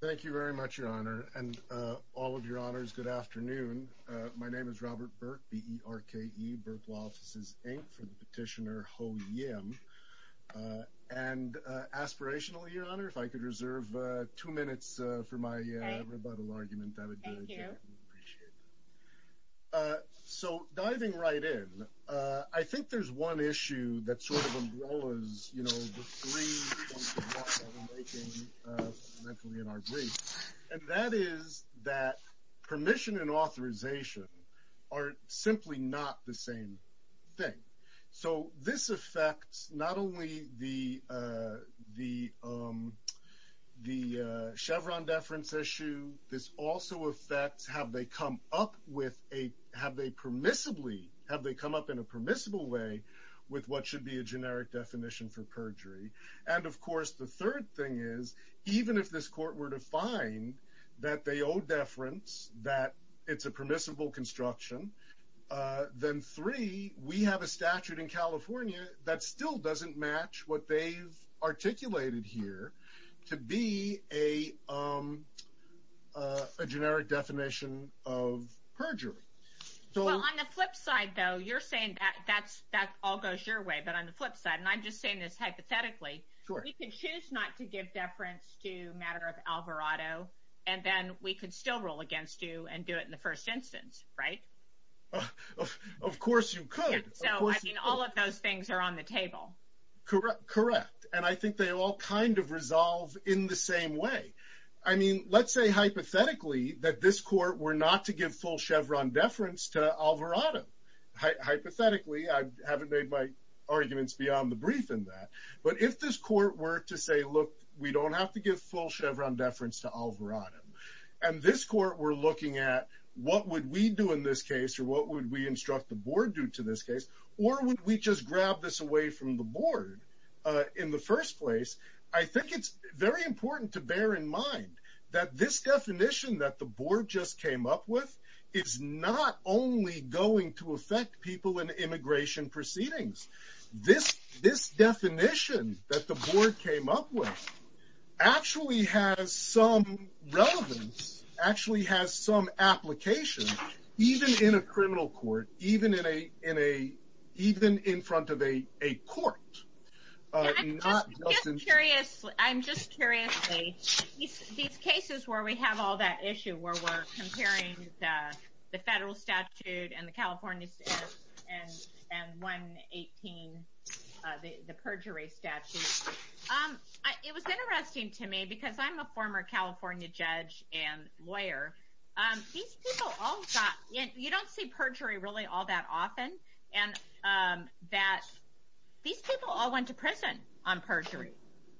Thank you very much, Your Honor, and all of Your Honors, good afternoon. My name is Robert Burke, B-E-R-K-E, Burke Law Offices, Inc., for the petitioner Ho Yim. And aspirationally, Your Honor, if I could reserve two minutes for my rebuttal argument, that would be greatly appreciated. So diving right in, I think there's one issue that sort of umbrellas, you know, the three points of what we're making fundamentally in our brief, and that is that permission and authorization are simply not the same thing. So this affects not only the Chevron deference issue, this also affects have they come up with a, have they permissibly, have they come up in a And of course, the third thing is, even if this court were to find that they owe deference, that it's a permissible construction, then three, we have a statute in California that still doesn't match what they've articulated here to be a generic definition of perjury. Well, on the flip side, though, you're saying that all goes your way, but on the flip side, and I'm just saying this hypothetically, we can choose not to give deference to matter of Alvarado, and then we could still rule against you and do it in the first instance, right? Of course you could. So I mean, all of those things are on the table. Correct. And I think they all kind of resolve in the same way. I mean, let's say hypothetically that this court were not to give full Chevron deference to Alvarado. Hypothetically, I haven't made my arguments beyond the brief in that. But if this court were to say, look, we don't have to give full Chevron deference to Alvarado, and this court were looking at what would we do in this case, or what would we instruct the board do to this case, or would we just grab this away from the board in the first place? I think it's very important to bear in mind that this definition that the board just came up with is not only going to affect people in immigration proceedings. This definition that the board came up with actually has some relevance, actually has some application, even in a criminal court, even in front of a court. I'm just curious, these cases where we have all that issue, where we're comparing the federal statute and the California and 118, the perjury statute. It was interesting to me, because I'm a former California judge and lawyer, these people don't see perjury really all that often. These people all went to prison on perjury.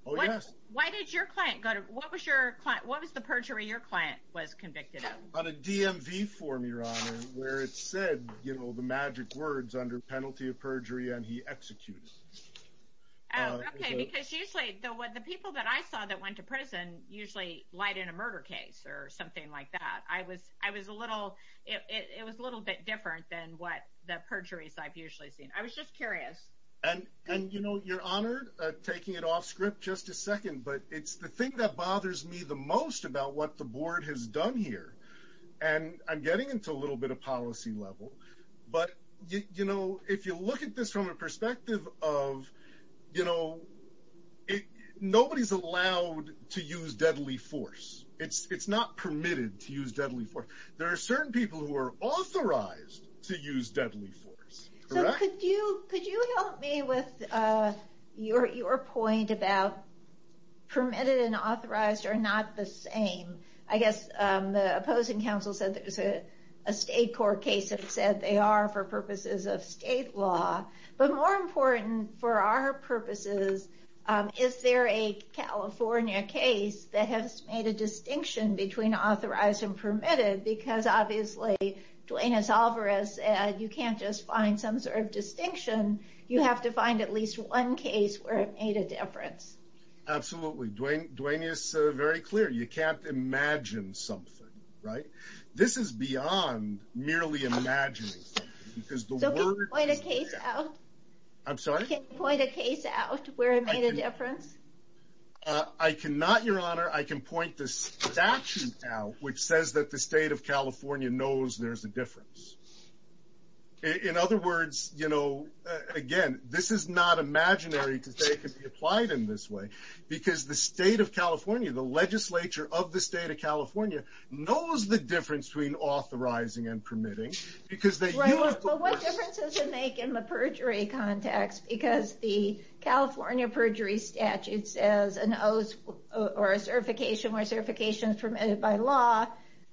Oh, yes. Why did your client go to... What was the perjury your client was convicted of? On a DMV form, Your Honor, where it said the magic words under penalty of perjury, and he executed. Oh, okay, because usually the people that I saw that went to prison usually lied in a murder case or something like that. It was a little bit different than what the perjuries I've usually seen. I was just curious. Your Honor, taking it off script just a second, but it's the thing that bothers me the most about what the board has done here. I'm getting into a little bit of policy level, but if you look at this from a perspective of it, nobody's allowed to use deadly force. It's not permitted to use deadly force. There are certain people who are authorized to use deadly force. Could you help me with your point about permitted and authorized are not the same? I guess the opposing counsel said there's a state court case that said they are for purposes of is there a California case that has made a distinction between authorized and permitted? Because obviously, Dwayne is always, you can't just find some sort of distinction. You have to find at least one case where it made a difference. Absolutely. Dwayne is very clear. You can't imagine something, right? This is beyond merely imagining. Can you point a case out where it made a difference? I cannot, Your Honor. I can point the statute out, which says that the state of California knows there's a difference. In other words, again, this is not imaginary because they could be applied in this way, because the state of California, the legislature of the state of permitting, because they do have to list- What difference does it make in the perjury context? Because the California perjury statute says an oath or a certification where certification is permitted by law,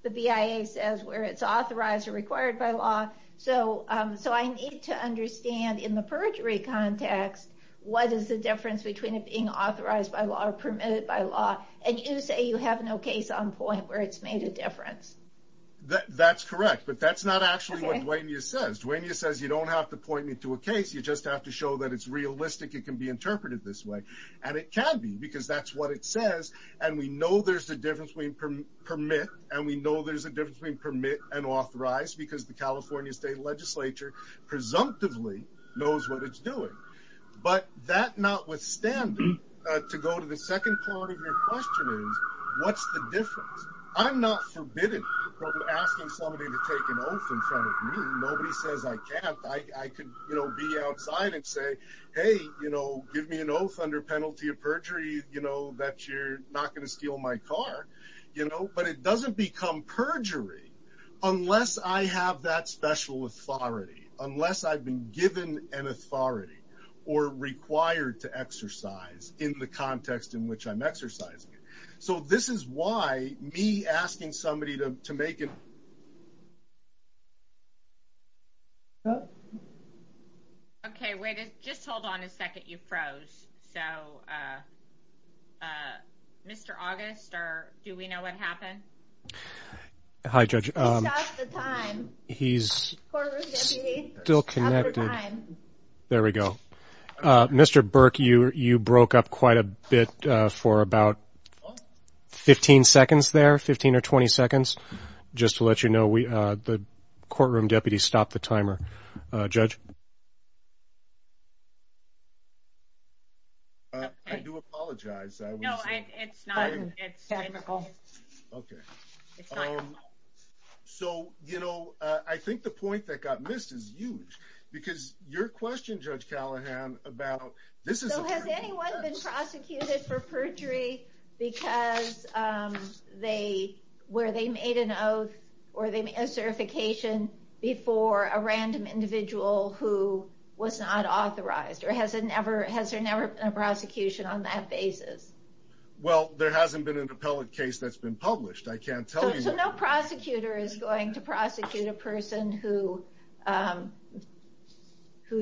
the BIA says where it's authorized or required by law. I need to understand in the perjury context, what is the difference between it being authorized by law or permitted by law? You say you have no case on point where it's made a difference. That's correct, but that's not actually what Dwayne says. Dwayne says you don't have to point me to a case. You just have to show that it's realistic. It can be interpreted this way, and it can be because that's what it says. We know there's a difference between permit and we know there's a difference between permit and authorized because the California state legislature presumptively knows what it's doing. That notwithstanding, to go to the second part of your question is, what's the difference? I'm not forbidden from asking somebody to take an oath in front of me. Nobody says I can't. I could be outside and say, hey, give me an oath under penalty of perjury that you're not going to steal my car, but it doesn't become perjury unless I have that special authority, unless I've been given an authority or required to exercise in the context in which I'm exercising it. This is why me asking somebody to make an... Okay, just hold on a second. You froze. Mr. August, do we know what happened? Hi, Judge. He's still connected. There we go. Mr. Burke, you broke up quite a bit for about 15 seconds there, 15 or 20 seconds. Just to let you know, the courtroom deputy stopped the timer. Judge? I do apologize. I think the point that got missed is huge because your question, Judge Callahan, about... Has anyone been prosecuted for perjury where they made an oath or they made a certification before a random individual who was not authorized? Or has there never been a prosecution on that basis? Well, there hasn't been an appellate case that's been published. I can't tell you that. So no prosecutor is going to prosecute a person who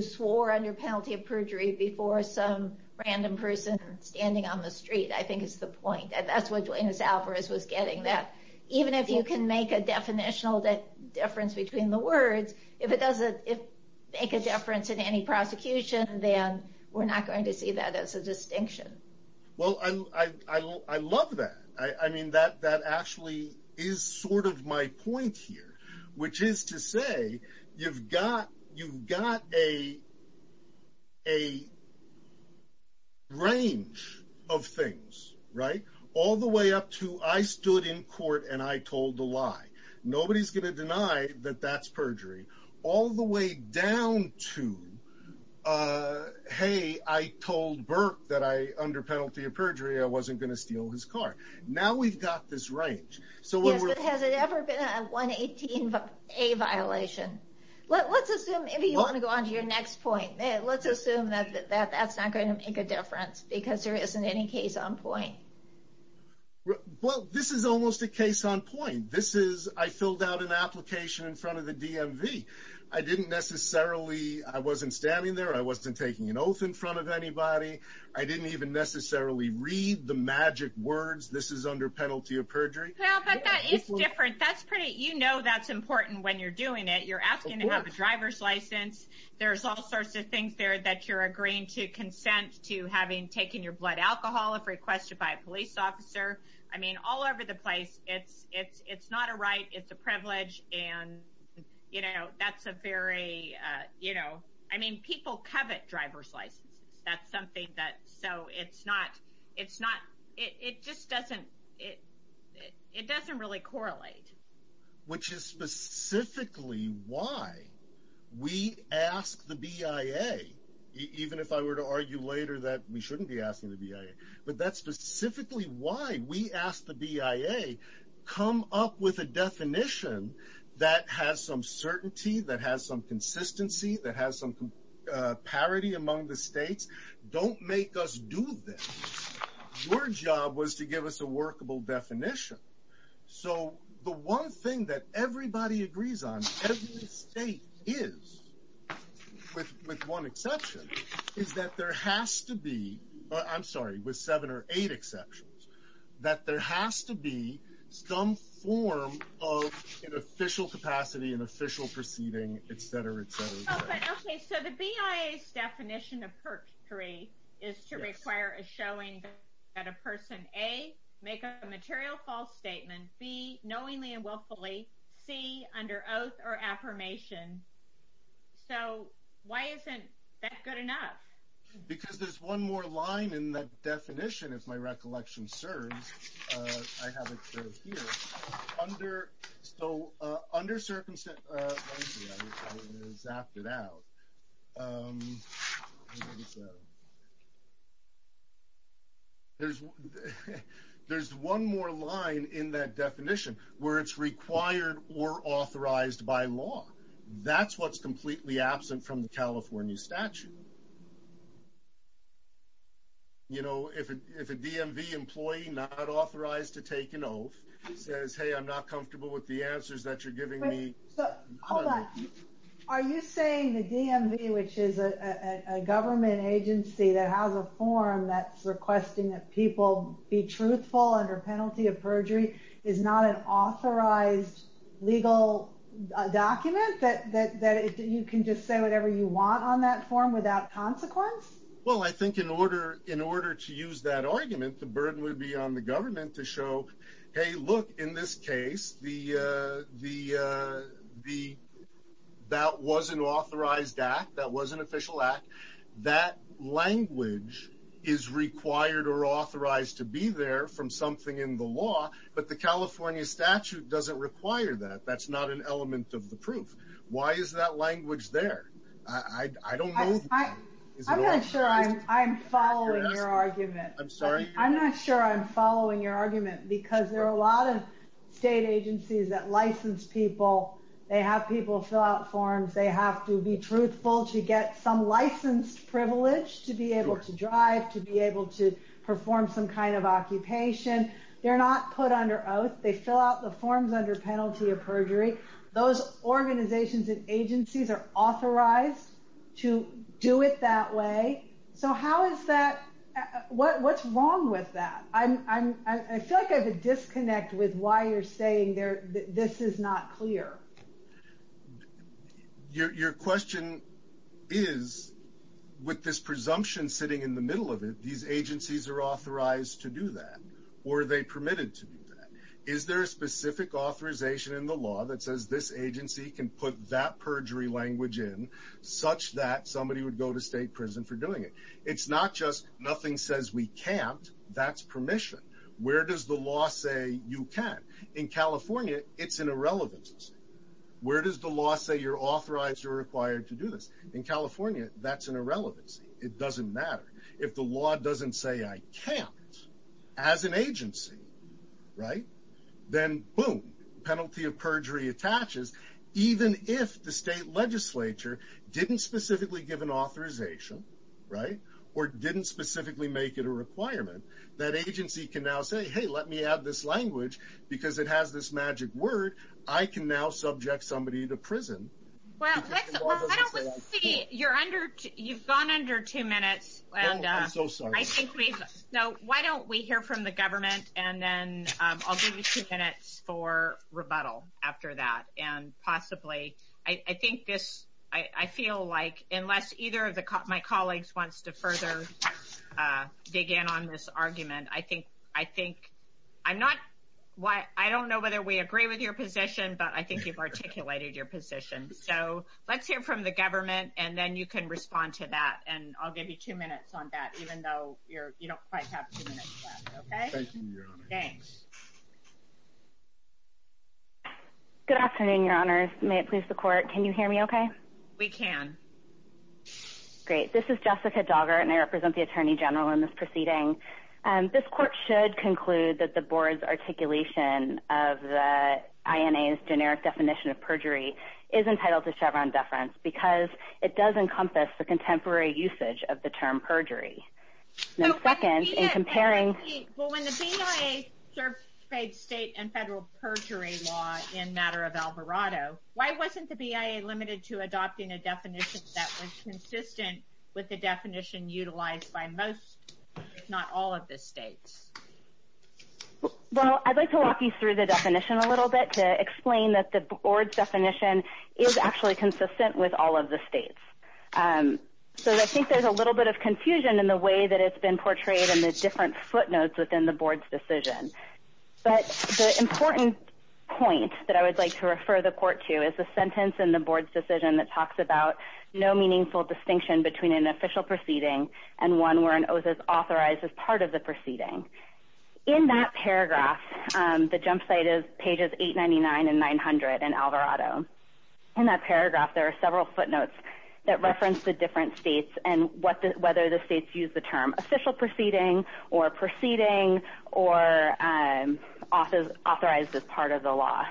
swore under penalty of perjury before some random person standing on the street, I think is the point. That's what Dwayne Alvarez was getting, that even if you can make a definitional difference between the words, if it doesn't make a difference in any prosecution, then we're not going to see that as a distinction. Well, I love that. I mean, that actually is sort of my point here, which is to say you've got a range of things, right? All the way up to, I stood in court and I told the lie. Nobody's going to deny that that's perjury. All the way down to, hey, I told Burke that I, under penalty of perjury, I wasn't going to steal his car. Now we've got this range. Yes, but has it ever been a 118A violation? Let's assume... Maybe you want to go on to your next point. Let's assume that that's not going to make a difference because there isn't any case on point. Well, this is almost a case on point. This is, I filled out an application in front of the DMV. I didn't necessarily, I wasn't standing there. I wasn't taking an oath in front of anybody. I didn't even necessarily read the magic words, this is under penalty of perjury. Yeah, but that is different. You know that's important when you're doing it. You're asking to have a driver's license. There's all sorts of things there that you're agreeing to consent to having taken your blood alcohol if requested by a police officer. I mean, all over the place, it's not a right, it's a privilege. And that's a very, I mean, people covet driver's licenses. That's something that, so it's not, it just doesn't, it doesn't really correlate. Which is specifically why we ask the BIA, even if I were to argue later that we shouldn't be asking the BIA, but that's specifically why we asked the BIA, come up with a definition that has some certainty, that has some consistency, that has some parity among the states. Don't make us do this. Your job was to give us a workable definition. So the one thing that everybody agrees on, every state is, with one exception, is that there has to be, I'm sorry, with seven or eight exceptions, that there has to be some form of an official capacity, an official proceeding, et cetera, et cetera, et cetera. Okay, so the BIA's definition of PERC 3 is to require a showing that a person, A, make a material false statement, B, knowingly and willfully, C, under oath or affirmation. So why isn't that good enough? Because there's one more line in the definition, if my recollection serves. I have it served here. So under circumstance, let me see, I zapped it out. There's one more line in that definition where it's required or authorized by law. That's what's completely absent from the California statute. So, you know, if a DMV employee not authorized to take an oath says, hey, I'm not comfortable with the answers that you're giving me. Hold on, are you saying the DMV, which is a government agency that has a form that's requesting that people be truthful under penalty of perjury, is not an authorized legal document that you can just say whatever you want on that form without consequence? Well, I think in order to use that argument, the burden would be on the government to show, hey, look, in this case, that was an authorized act, that was an official act. That language is required or authorized to be there from something in the law, but the California statute doesn't require that. That's not an element of the proof. Why is that language there? I don't know. I'm not sure I'm following your argument. I'm sorry? I'm not sure I'm following your argument because there are a lot of state agencies that license people. They have people fill out forms. They have to be truthful to get some licensed privilege to be able to drive, to be able to perform some kind of occupation. They're not put under oath. They fill out the forms under penalty of perjury. Those organizations and agencies are authorized to do it that way. So what's wrong with that? I feel like I have a disconnect with why you're saying this is not clear. Your question is, with this presumption sitting in the middle of it, these agencies are authorized to do that, or are they permitted to do that? Is there a specific authorization in the law that says this agency can put that perjury language in such that somebody would go to state prison for doing it? It's not just nothing says we can't. That's permission. Where does the law say you can? In California, it's an irrelevancy. Where does the law say you're authorized or required to do this? In California, that's an irrelevancy. It doesn't matter. If the law doesn't say I can't, as an agency, right, then, boom, penalty of perjury attaches. Even if the state legislature didn't specifically give an authorization, right, or didn't specifically make it a requirement, that agency can now say, hey, let me add this language because it has this magic word. I can now subject somebody to prison. Well, I don't see, you're under, you've gone under two minutes. Oh, I'm so sorry. No, why don't we hear from the government, and then I'll give you two minutes for rebuttal after that, and possibly, I think this, I feel like, unless either of my colleagues wants to further dig in on this argument, I think, I'm not, I don't know whether we agree with your position, but I think you've articulated your position. So let's hear from the government, and then you can respond to that, and I'll give you two minutes on that, even though you're, you don't quite have two minutes left, okay? Thank you, Your Honor. Thanks. Good afternoon, Your Honors. May it please the court, can you hear me okay? We can. Great. This is Jessica Dogger, and I represent the Attorney General in this proceeding. This court should conclude that the board's articulation of the INA's generic definition of perjury is entitled to Chevron deference because it does encompass the contemporary usage of the term perjury. And then second, in comparing... Well, when the BIA certified state and federal perjury law in matter of Alvarado, why wasn't the BIA limited to adopting a definition that was consistent with the definition utilized by most, if not all, of the states? Well, I'd like to walk you through the definition a little bit to explain that the board's definition is actually consistent with all of the states. And so I think there's a little bit of confusion in the way that it's been portrayed in the different footnotes within the board's decision. But the important point that I would like to refer the court to is the sentence in the board's decision that talks about no meaningful distinction between an official proceeding and one where an oath is authorized as part of the proceeding. In that paragraph, the jump site is pages 899 and 900 in Alvarado. In that paragraph, there are several footnotes that reference the different states and whether the states use the term official proceeding or proceeding or authorized as part of the law.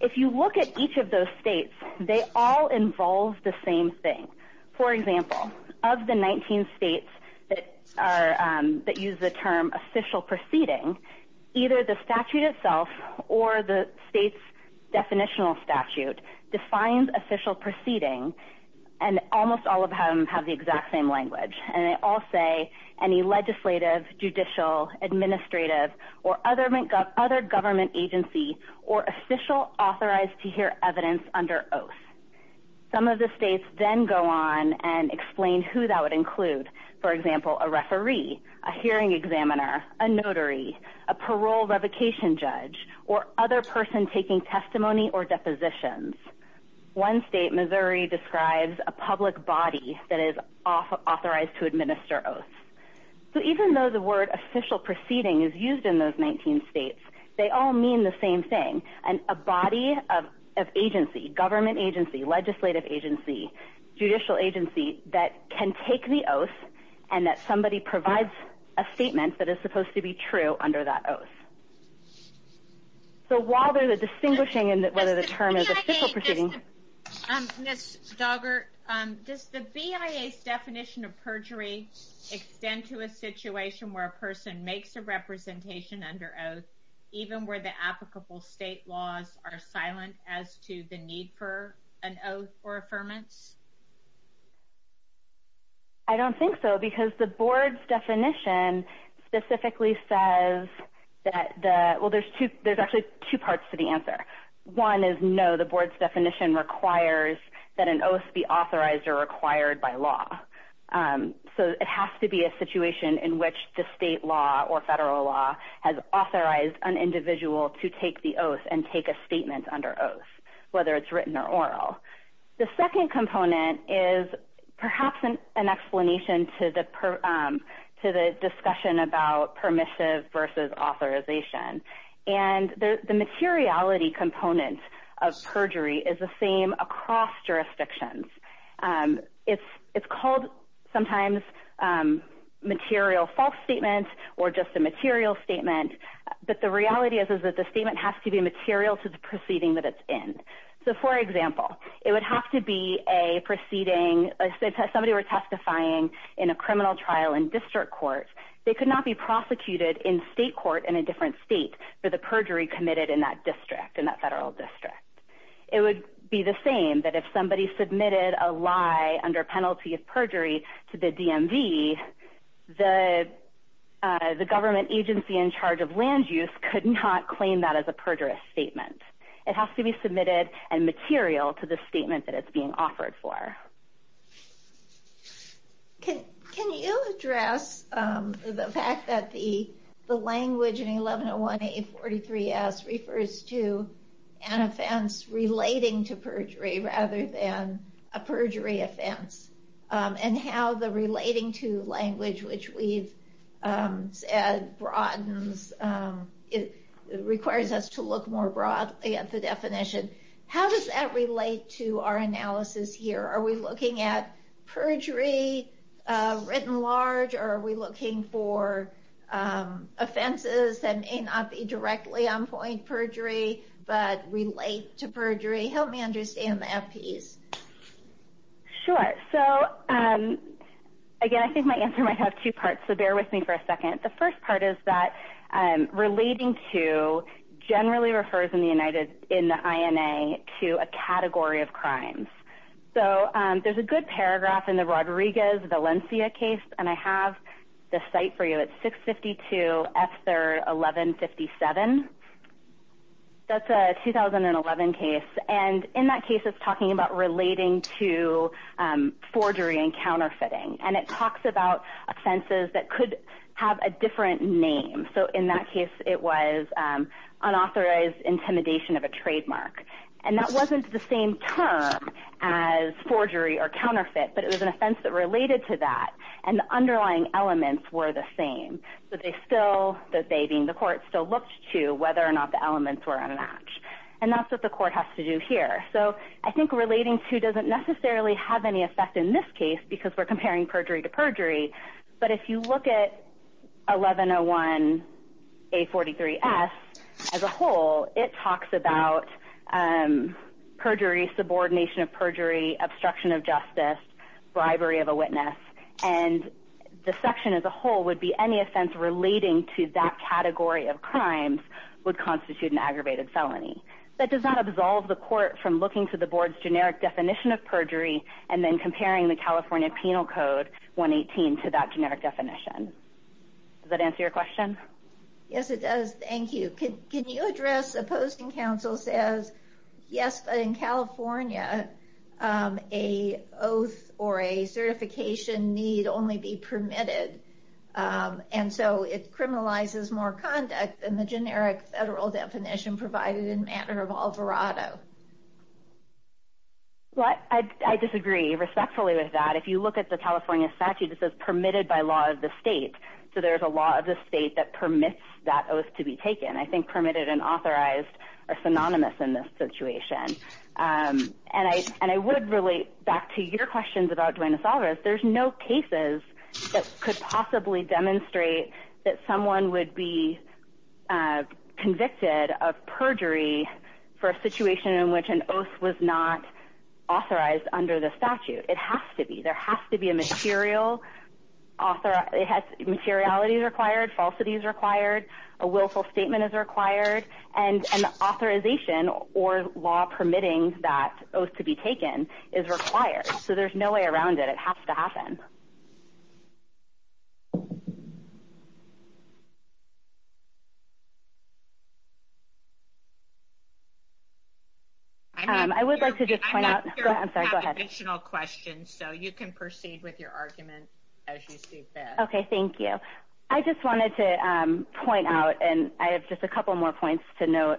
If you look at each of those states, they all involve the same thing. For example, of the 19 states that use the term official proceeding, either the statute itself or the state's definitional statute defines official proceeding, and almost all of them have the exact same language. And they all say any legislative, judicial, administrative, or other government agency or official authorized to hear evidence under oath. Some of the states then go on and explain who that would include. For example, a referee, a hearing examiner, a notary, a parole revocation judge, or other person taking testimony or depositions. One state, Missouri, describes a public body that is authorized to administer oaths. So even though the word official proceeding is used in those 19 states, they all mean the same thing. And a body of agency, government agency, legislative agency, judicial agency that can take the oath and that somebody provides a statement that is supposed to be true under that oath. So while there's a distinguishing in whether the term is official proceeding. Ms. Doggart, does the BIA's definition of perjury extend to a situation where a person makes a representation under oath, even where the applicable state laws are silent as to the need for an oath or affirmance? I don't think so, because the board's definition specifically says that, well, there's actually two parts to the answer. One is no, the board's definition requires that an oath be authorized or required by law. So it has to be a situation in which the state law or federal law has authorized an individual to take the oath and take a statement under oath, whether it's written or oral. The second component is perhaps an explanation to the discussion about permissive versus authorization. And the materiality component of perjury is the same across jurisdictions. It's called sometimes material false statement or just a material statement, but the reality is that the statement has to be material to the proceeding that it's in. So, for example, it would have to be a proceeding, somebody were testifying in a criminal trial in district court. They could not be prosecuted in state court in a different state for the perjury committed in that district, in that federal district. It would be the same that if somebody submitted a lie under penalty of perjury to the DMV, the government agency in charge of land use could not claim that as a perjurous statement. It has to be submitted and material to the statement that it's being offered for. Can you address the fact that the language in 1101-8843-S refers to an offense relating to perjury rather than a perjury offense? And how the relating to language, which we've said broadens, requires us to look more broadly at the definition. How does that relate to our analysis here? Are we looking at perjury written large or are we looking for offenses that may not be directly on point perjury but relate to perjury? Help me understand that piece. Sure. So again, I think my answer might have two parts, so bear with me for a second. The first part is that relating to generally refers in the INA to a category of crimes. So there's a good paragraph in the Rodriguez Valencia case, and I have the site for you. It's 652 F3rd 1157. That's a 2011 case. And in that case, it's talking about relating to forgery and counterfeiting. And it talks about offenses that could have a different name. So in that case, it was unauthorized intimidation of a trademark. And that wasn't the same term as forgery or counterfeit, but it was an offense that related to that, and the underlying elements were the same. So they still, that they being the court, still looked to whether or not the elements were a match. And that's what the court has to do here. So I think relating to doesn't necessarily have any effect in this case because we're comparing perjury to perjury. But if you look at 1101A43S as a whole, it talks about perjury, subordination of perjury, obstruction of justice, bribery of a witness. And the section as a whole would be any offense relating to that category of crimes would That does not absolve the court from looking to the board's generic definition of perjury and then comparing the California Penal Code 118 to that generic definition. Does that answer your question? Yes, it does. Thank you. Can you address opposing counsel says, yes, but in California, a oath or a certification need only be permitted. And so it criminalizes more conduct than the generic federal definition provided in matter of Alvarado. Well, I disagree respectfully with that. If you look at the California statute, it says permitted by law of the state. So there's a law of the state that permits that oath to be taken. I think permitted and authorized are synonymous in this situation. And I would relate back to your questions about Duane DeSalvas. There's no cases that could possibly demonstrate that someone would be convicted of perjury for a situation in which an oath was not authorized under the statute. It has to be there has to be a material author. It has materiality required. Falsity is required. A willful statement is required and authorization or law permitting that oath to be taken is required. So there's no way around it. It has to happen. I would like to just point out additional questions so you can proceed with your argument as you see fit. OK, thank you. I just wanted to point out and I have just a couple more points to note.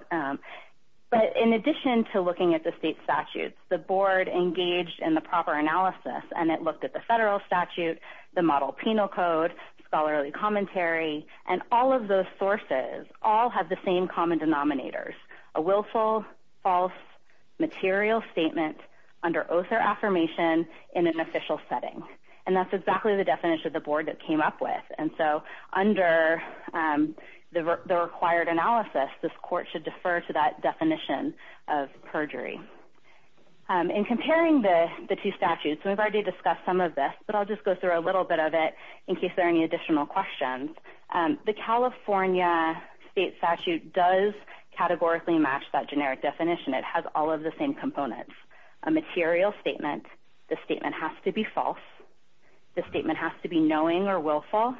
But in addition to looking at the state statutes, the board engaged in the proper analysis and it looked at the federal statute, the model penal code, scholarly commentary, and all of those sources all have the same common denominators. A willful, false, material statement under oath or affirmation in an official setting. And that's exactly the definition of the board that came up with. And so under the required analysis, this court should defer to that definition of perjury. In comparing the two statutes, we've already discussed some of this, but I'll just go through a little bit of it in case there are any additional questions. The California state statute does categorically match that generic definition. It has all of the same components. A material statement, the statement has to be false, the statement has to be knowing or willful,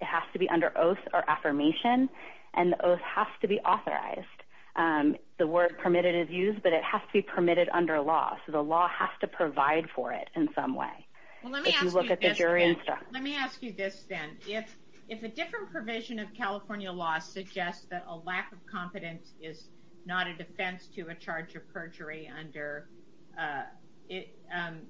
it has to be under oath or affirmation, and the oath has to be authorized. The word permitted is used, but it has to be permitted under law. So the law has to provide for it in some way. If you look at the jury and stuff. Well, let me ask you this then. If a different provision of California law suggests that a lack of competence is not a defense to a charge of perjury under 118A,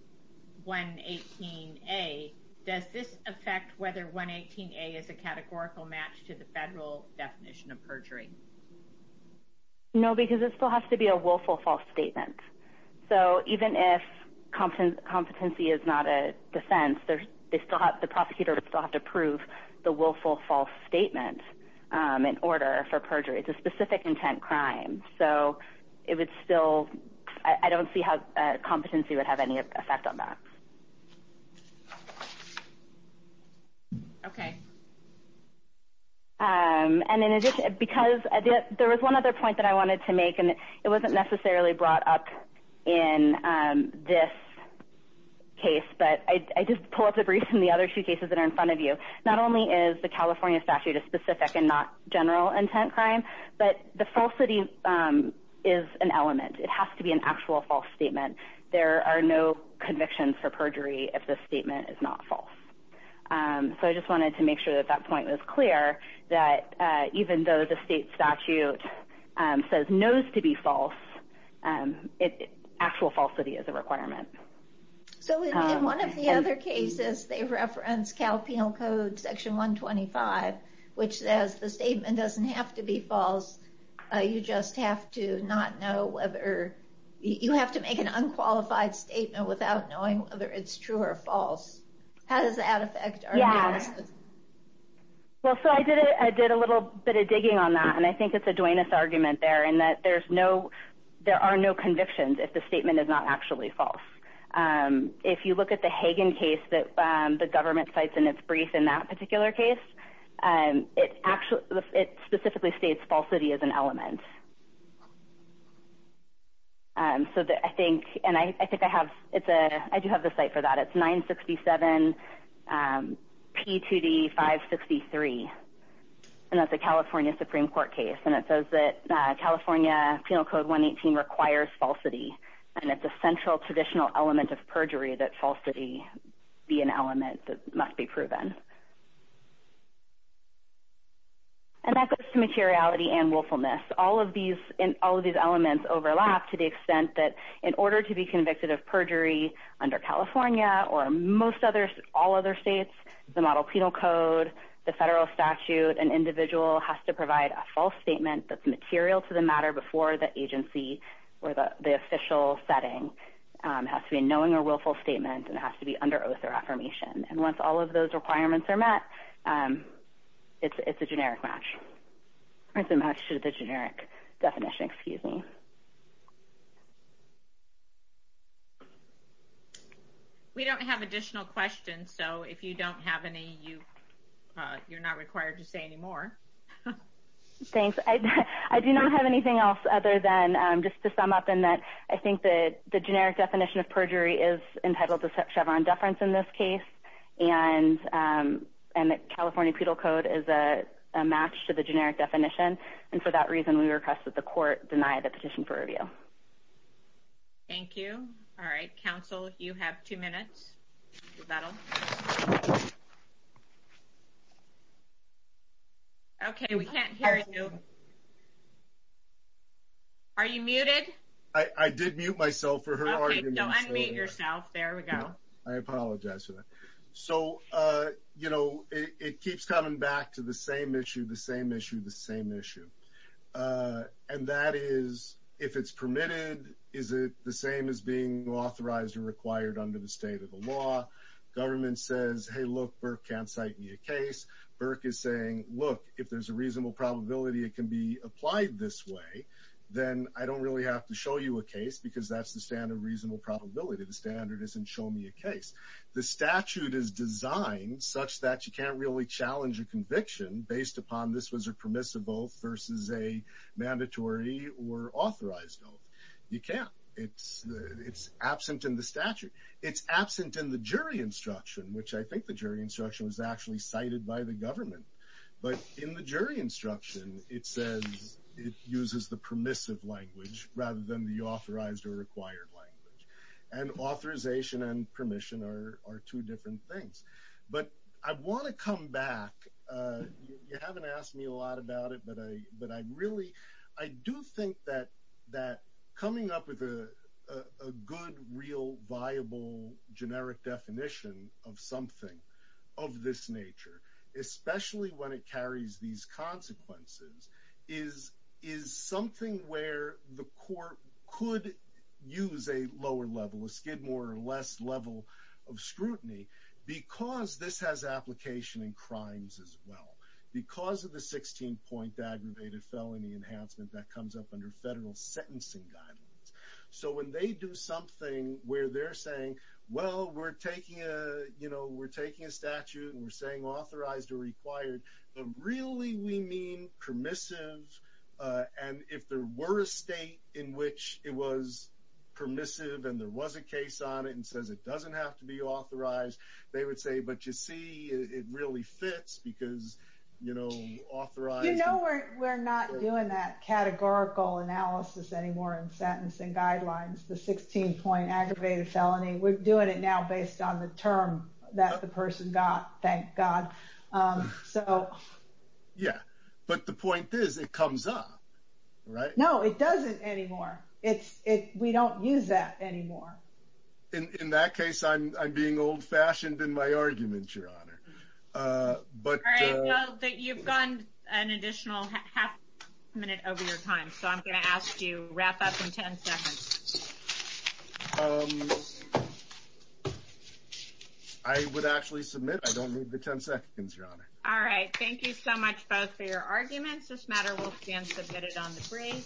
does this affect whether 118A is a categorical match to the federal definition of perjury? No, because it still has to be a willful false statement. So even if competency is not a defense, the prosecutor would still have to prove the willful false statement in order for perjury. It's a specific intent crime. So it would still, I don't see how competency would have any effect on that. Okay. And in addition, because there was one other point that I wanted to make, and it wasn't necessarily brought up in this case, but I just pulled up the briefs in the other two cases that are in front of you. Not only is the California statute a specific and not general intent crime, but the falsity is an element. It has to be an actual false statement. There are no convictions for perjury if the statement is not false. So I just wanted to make sure that that point was clear, that even though the state statute says no's to be false, actual falsity is a requirement. So in one of the other cases, they reference Cal Penal Code section 125, which says the statement doesn't have to be false. You just have to not know whether, you have to make an unqualified statement without knowing whether it's true or false. How does that affect? Yeah. Well, so I did a little bit of digging on that, and I think it's a Duenas argument there in that there are no convictions if the statement is not actually false. If you look at the Hagen case that the government cites in its brief in that particular case, it specifically states falsity as an element. So I think, and I do have the site for that. That's 967P2D563, and that's a California Supreme Court case. And it says that California Penal Code 118 requires falsity. And it's a central traditional element of perjury that falsity be an element that must be proven. And that goes to materiality and willfulness. All of these elements overlap to the extent that in order to be convicted of perjury under California or most other, all other states, the model penal code, the federal statute, an individual has to provide a false statement that's material to the matter before the agency or the official setting has to be a knowing or willful statement and has to be under oath or affirmation. And once all of those requirements are met, it's a generic match. Or it's a match to the generic definition, excuse me. We don't have additional questions. So if you don't have any, you're not required to say any more. Thanks. I do not have anything else other than just to sum up in that I think that the generic definition of perjury is entitled to Chevron deference in this case. And the California Penal Code is a match to the generic definition. And for that reason, we request that the court deny the petition for review. Thank you. All right. Council, you have two minutes. Okay, we can't hear you. Are you muted? I did mute myself for her argument. Okay, unmute yourself. There we go. I apologize for that. So, you know, it keeps coming back to the same issue, the same issue, the same issue. And that is, if it's permitted, is it the same as being authorized or required under the state of the law? Government says, hey, look, Burke can't cite me a case. Burke is saying, look, if there's a reasonable probability it can be applied this way, then I don't really have to show you a case because that's the standard reasonable probability. The standard isn't show me a case. The statute is designed such that you can't really challenge a conviction based upon this as a permissible versus a mandatory or authorized oath. You can't. It's absent in the statute. It's absent in the jury instruction, which I think the jury instruction was actually cited by the government. But in the jury instruction, it says it uses the permissive language rather than the authorized or required language. And authorization and permission are two different things. But I want to come back. You haven't asked me a lot about it, but I really, I do think that coming up with a good, real, viable, generic definition of something of this nature, especially when it carries these consequences, is something where the court could use a lower level, a skid more or less level of scrutiny because this has application in crimes as well. Because of the 16-point aggravated felony enhancement that comes up under federal sentencing guidelines. So when they do something where they're saying, well, we're taking a statute and we're saying authorized or required, but really we mean permissive. And if there were a state in which it was permissive and there was a case on it and says it doesn't have to be authorized, they would say, but you see, it really fits because authorized. You know we're not doing that categorical analysis anymore in sentencing guidelines, the 16-point aggravated felony. We're doing it now based on the term that the person got, thank God. So yeah, but the point is it comes up, right? No, it doesn't anymore. We don't use that anymore. In that case, I'm being old fashioned in my argument, Your Honor. All right, well, you've got an additional half minute over your time. So I'm going to ask you, wrap up in 10 seconds. I would actually submit. I don't need the 10 seconds, Your Honor. All right, thank you so much both for your arguments. This matter will stand submitted on the brief.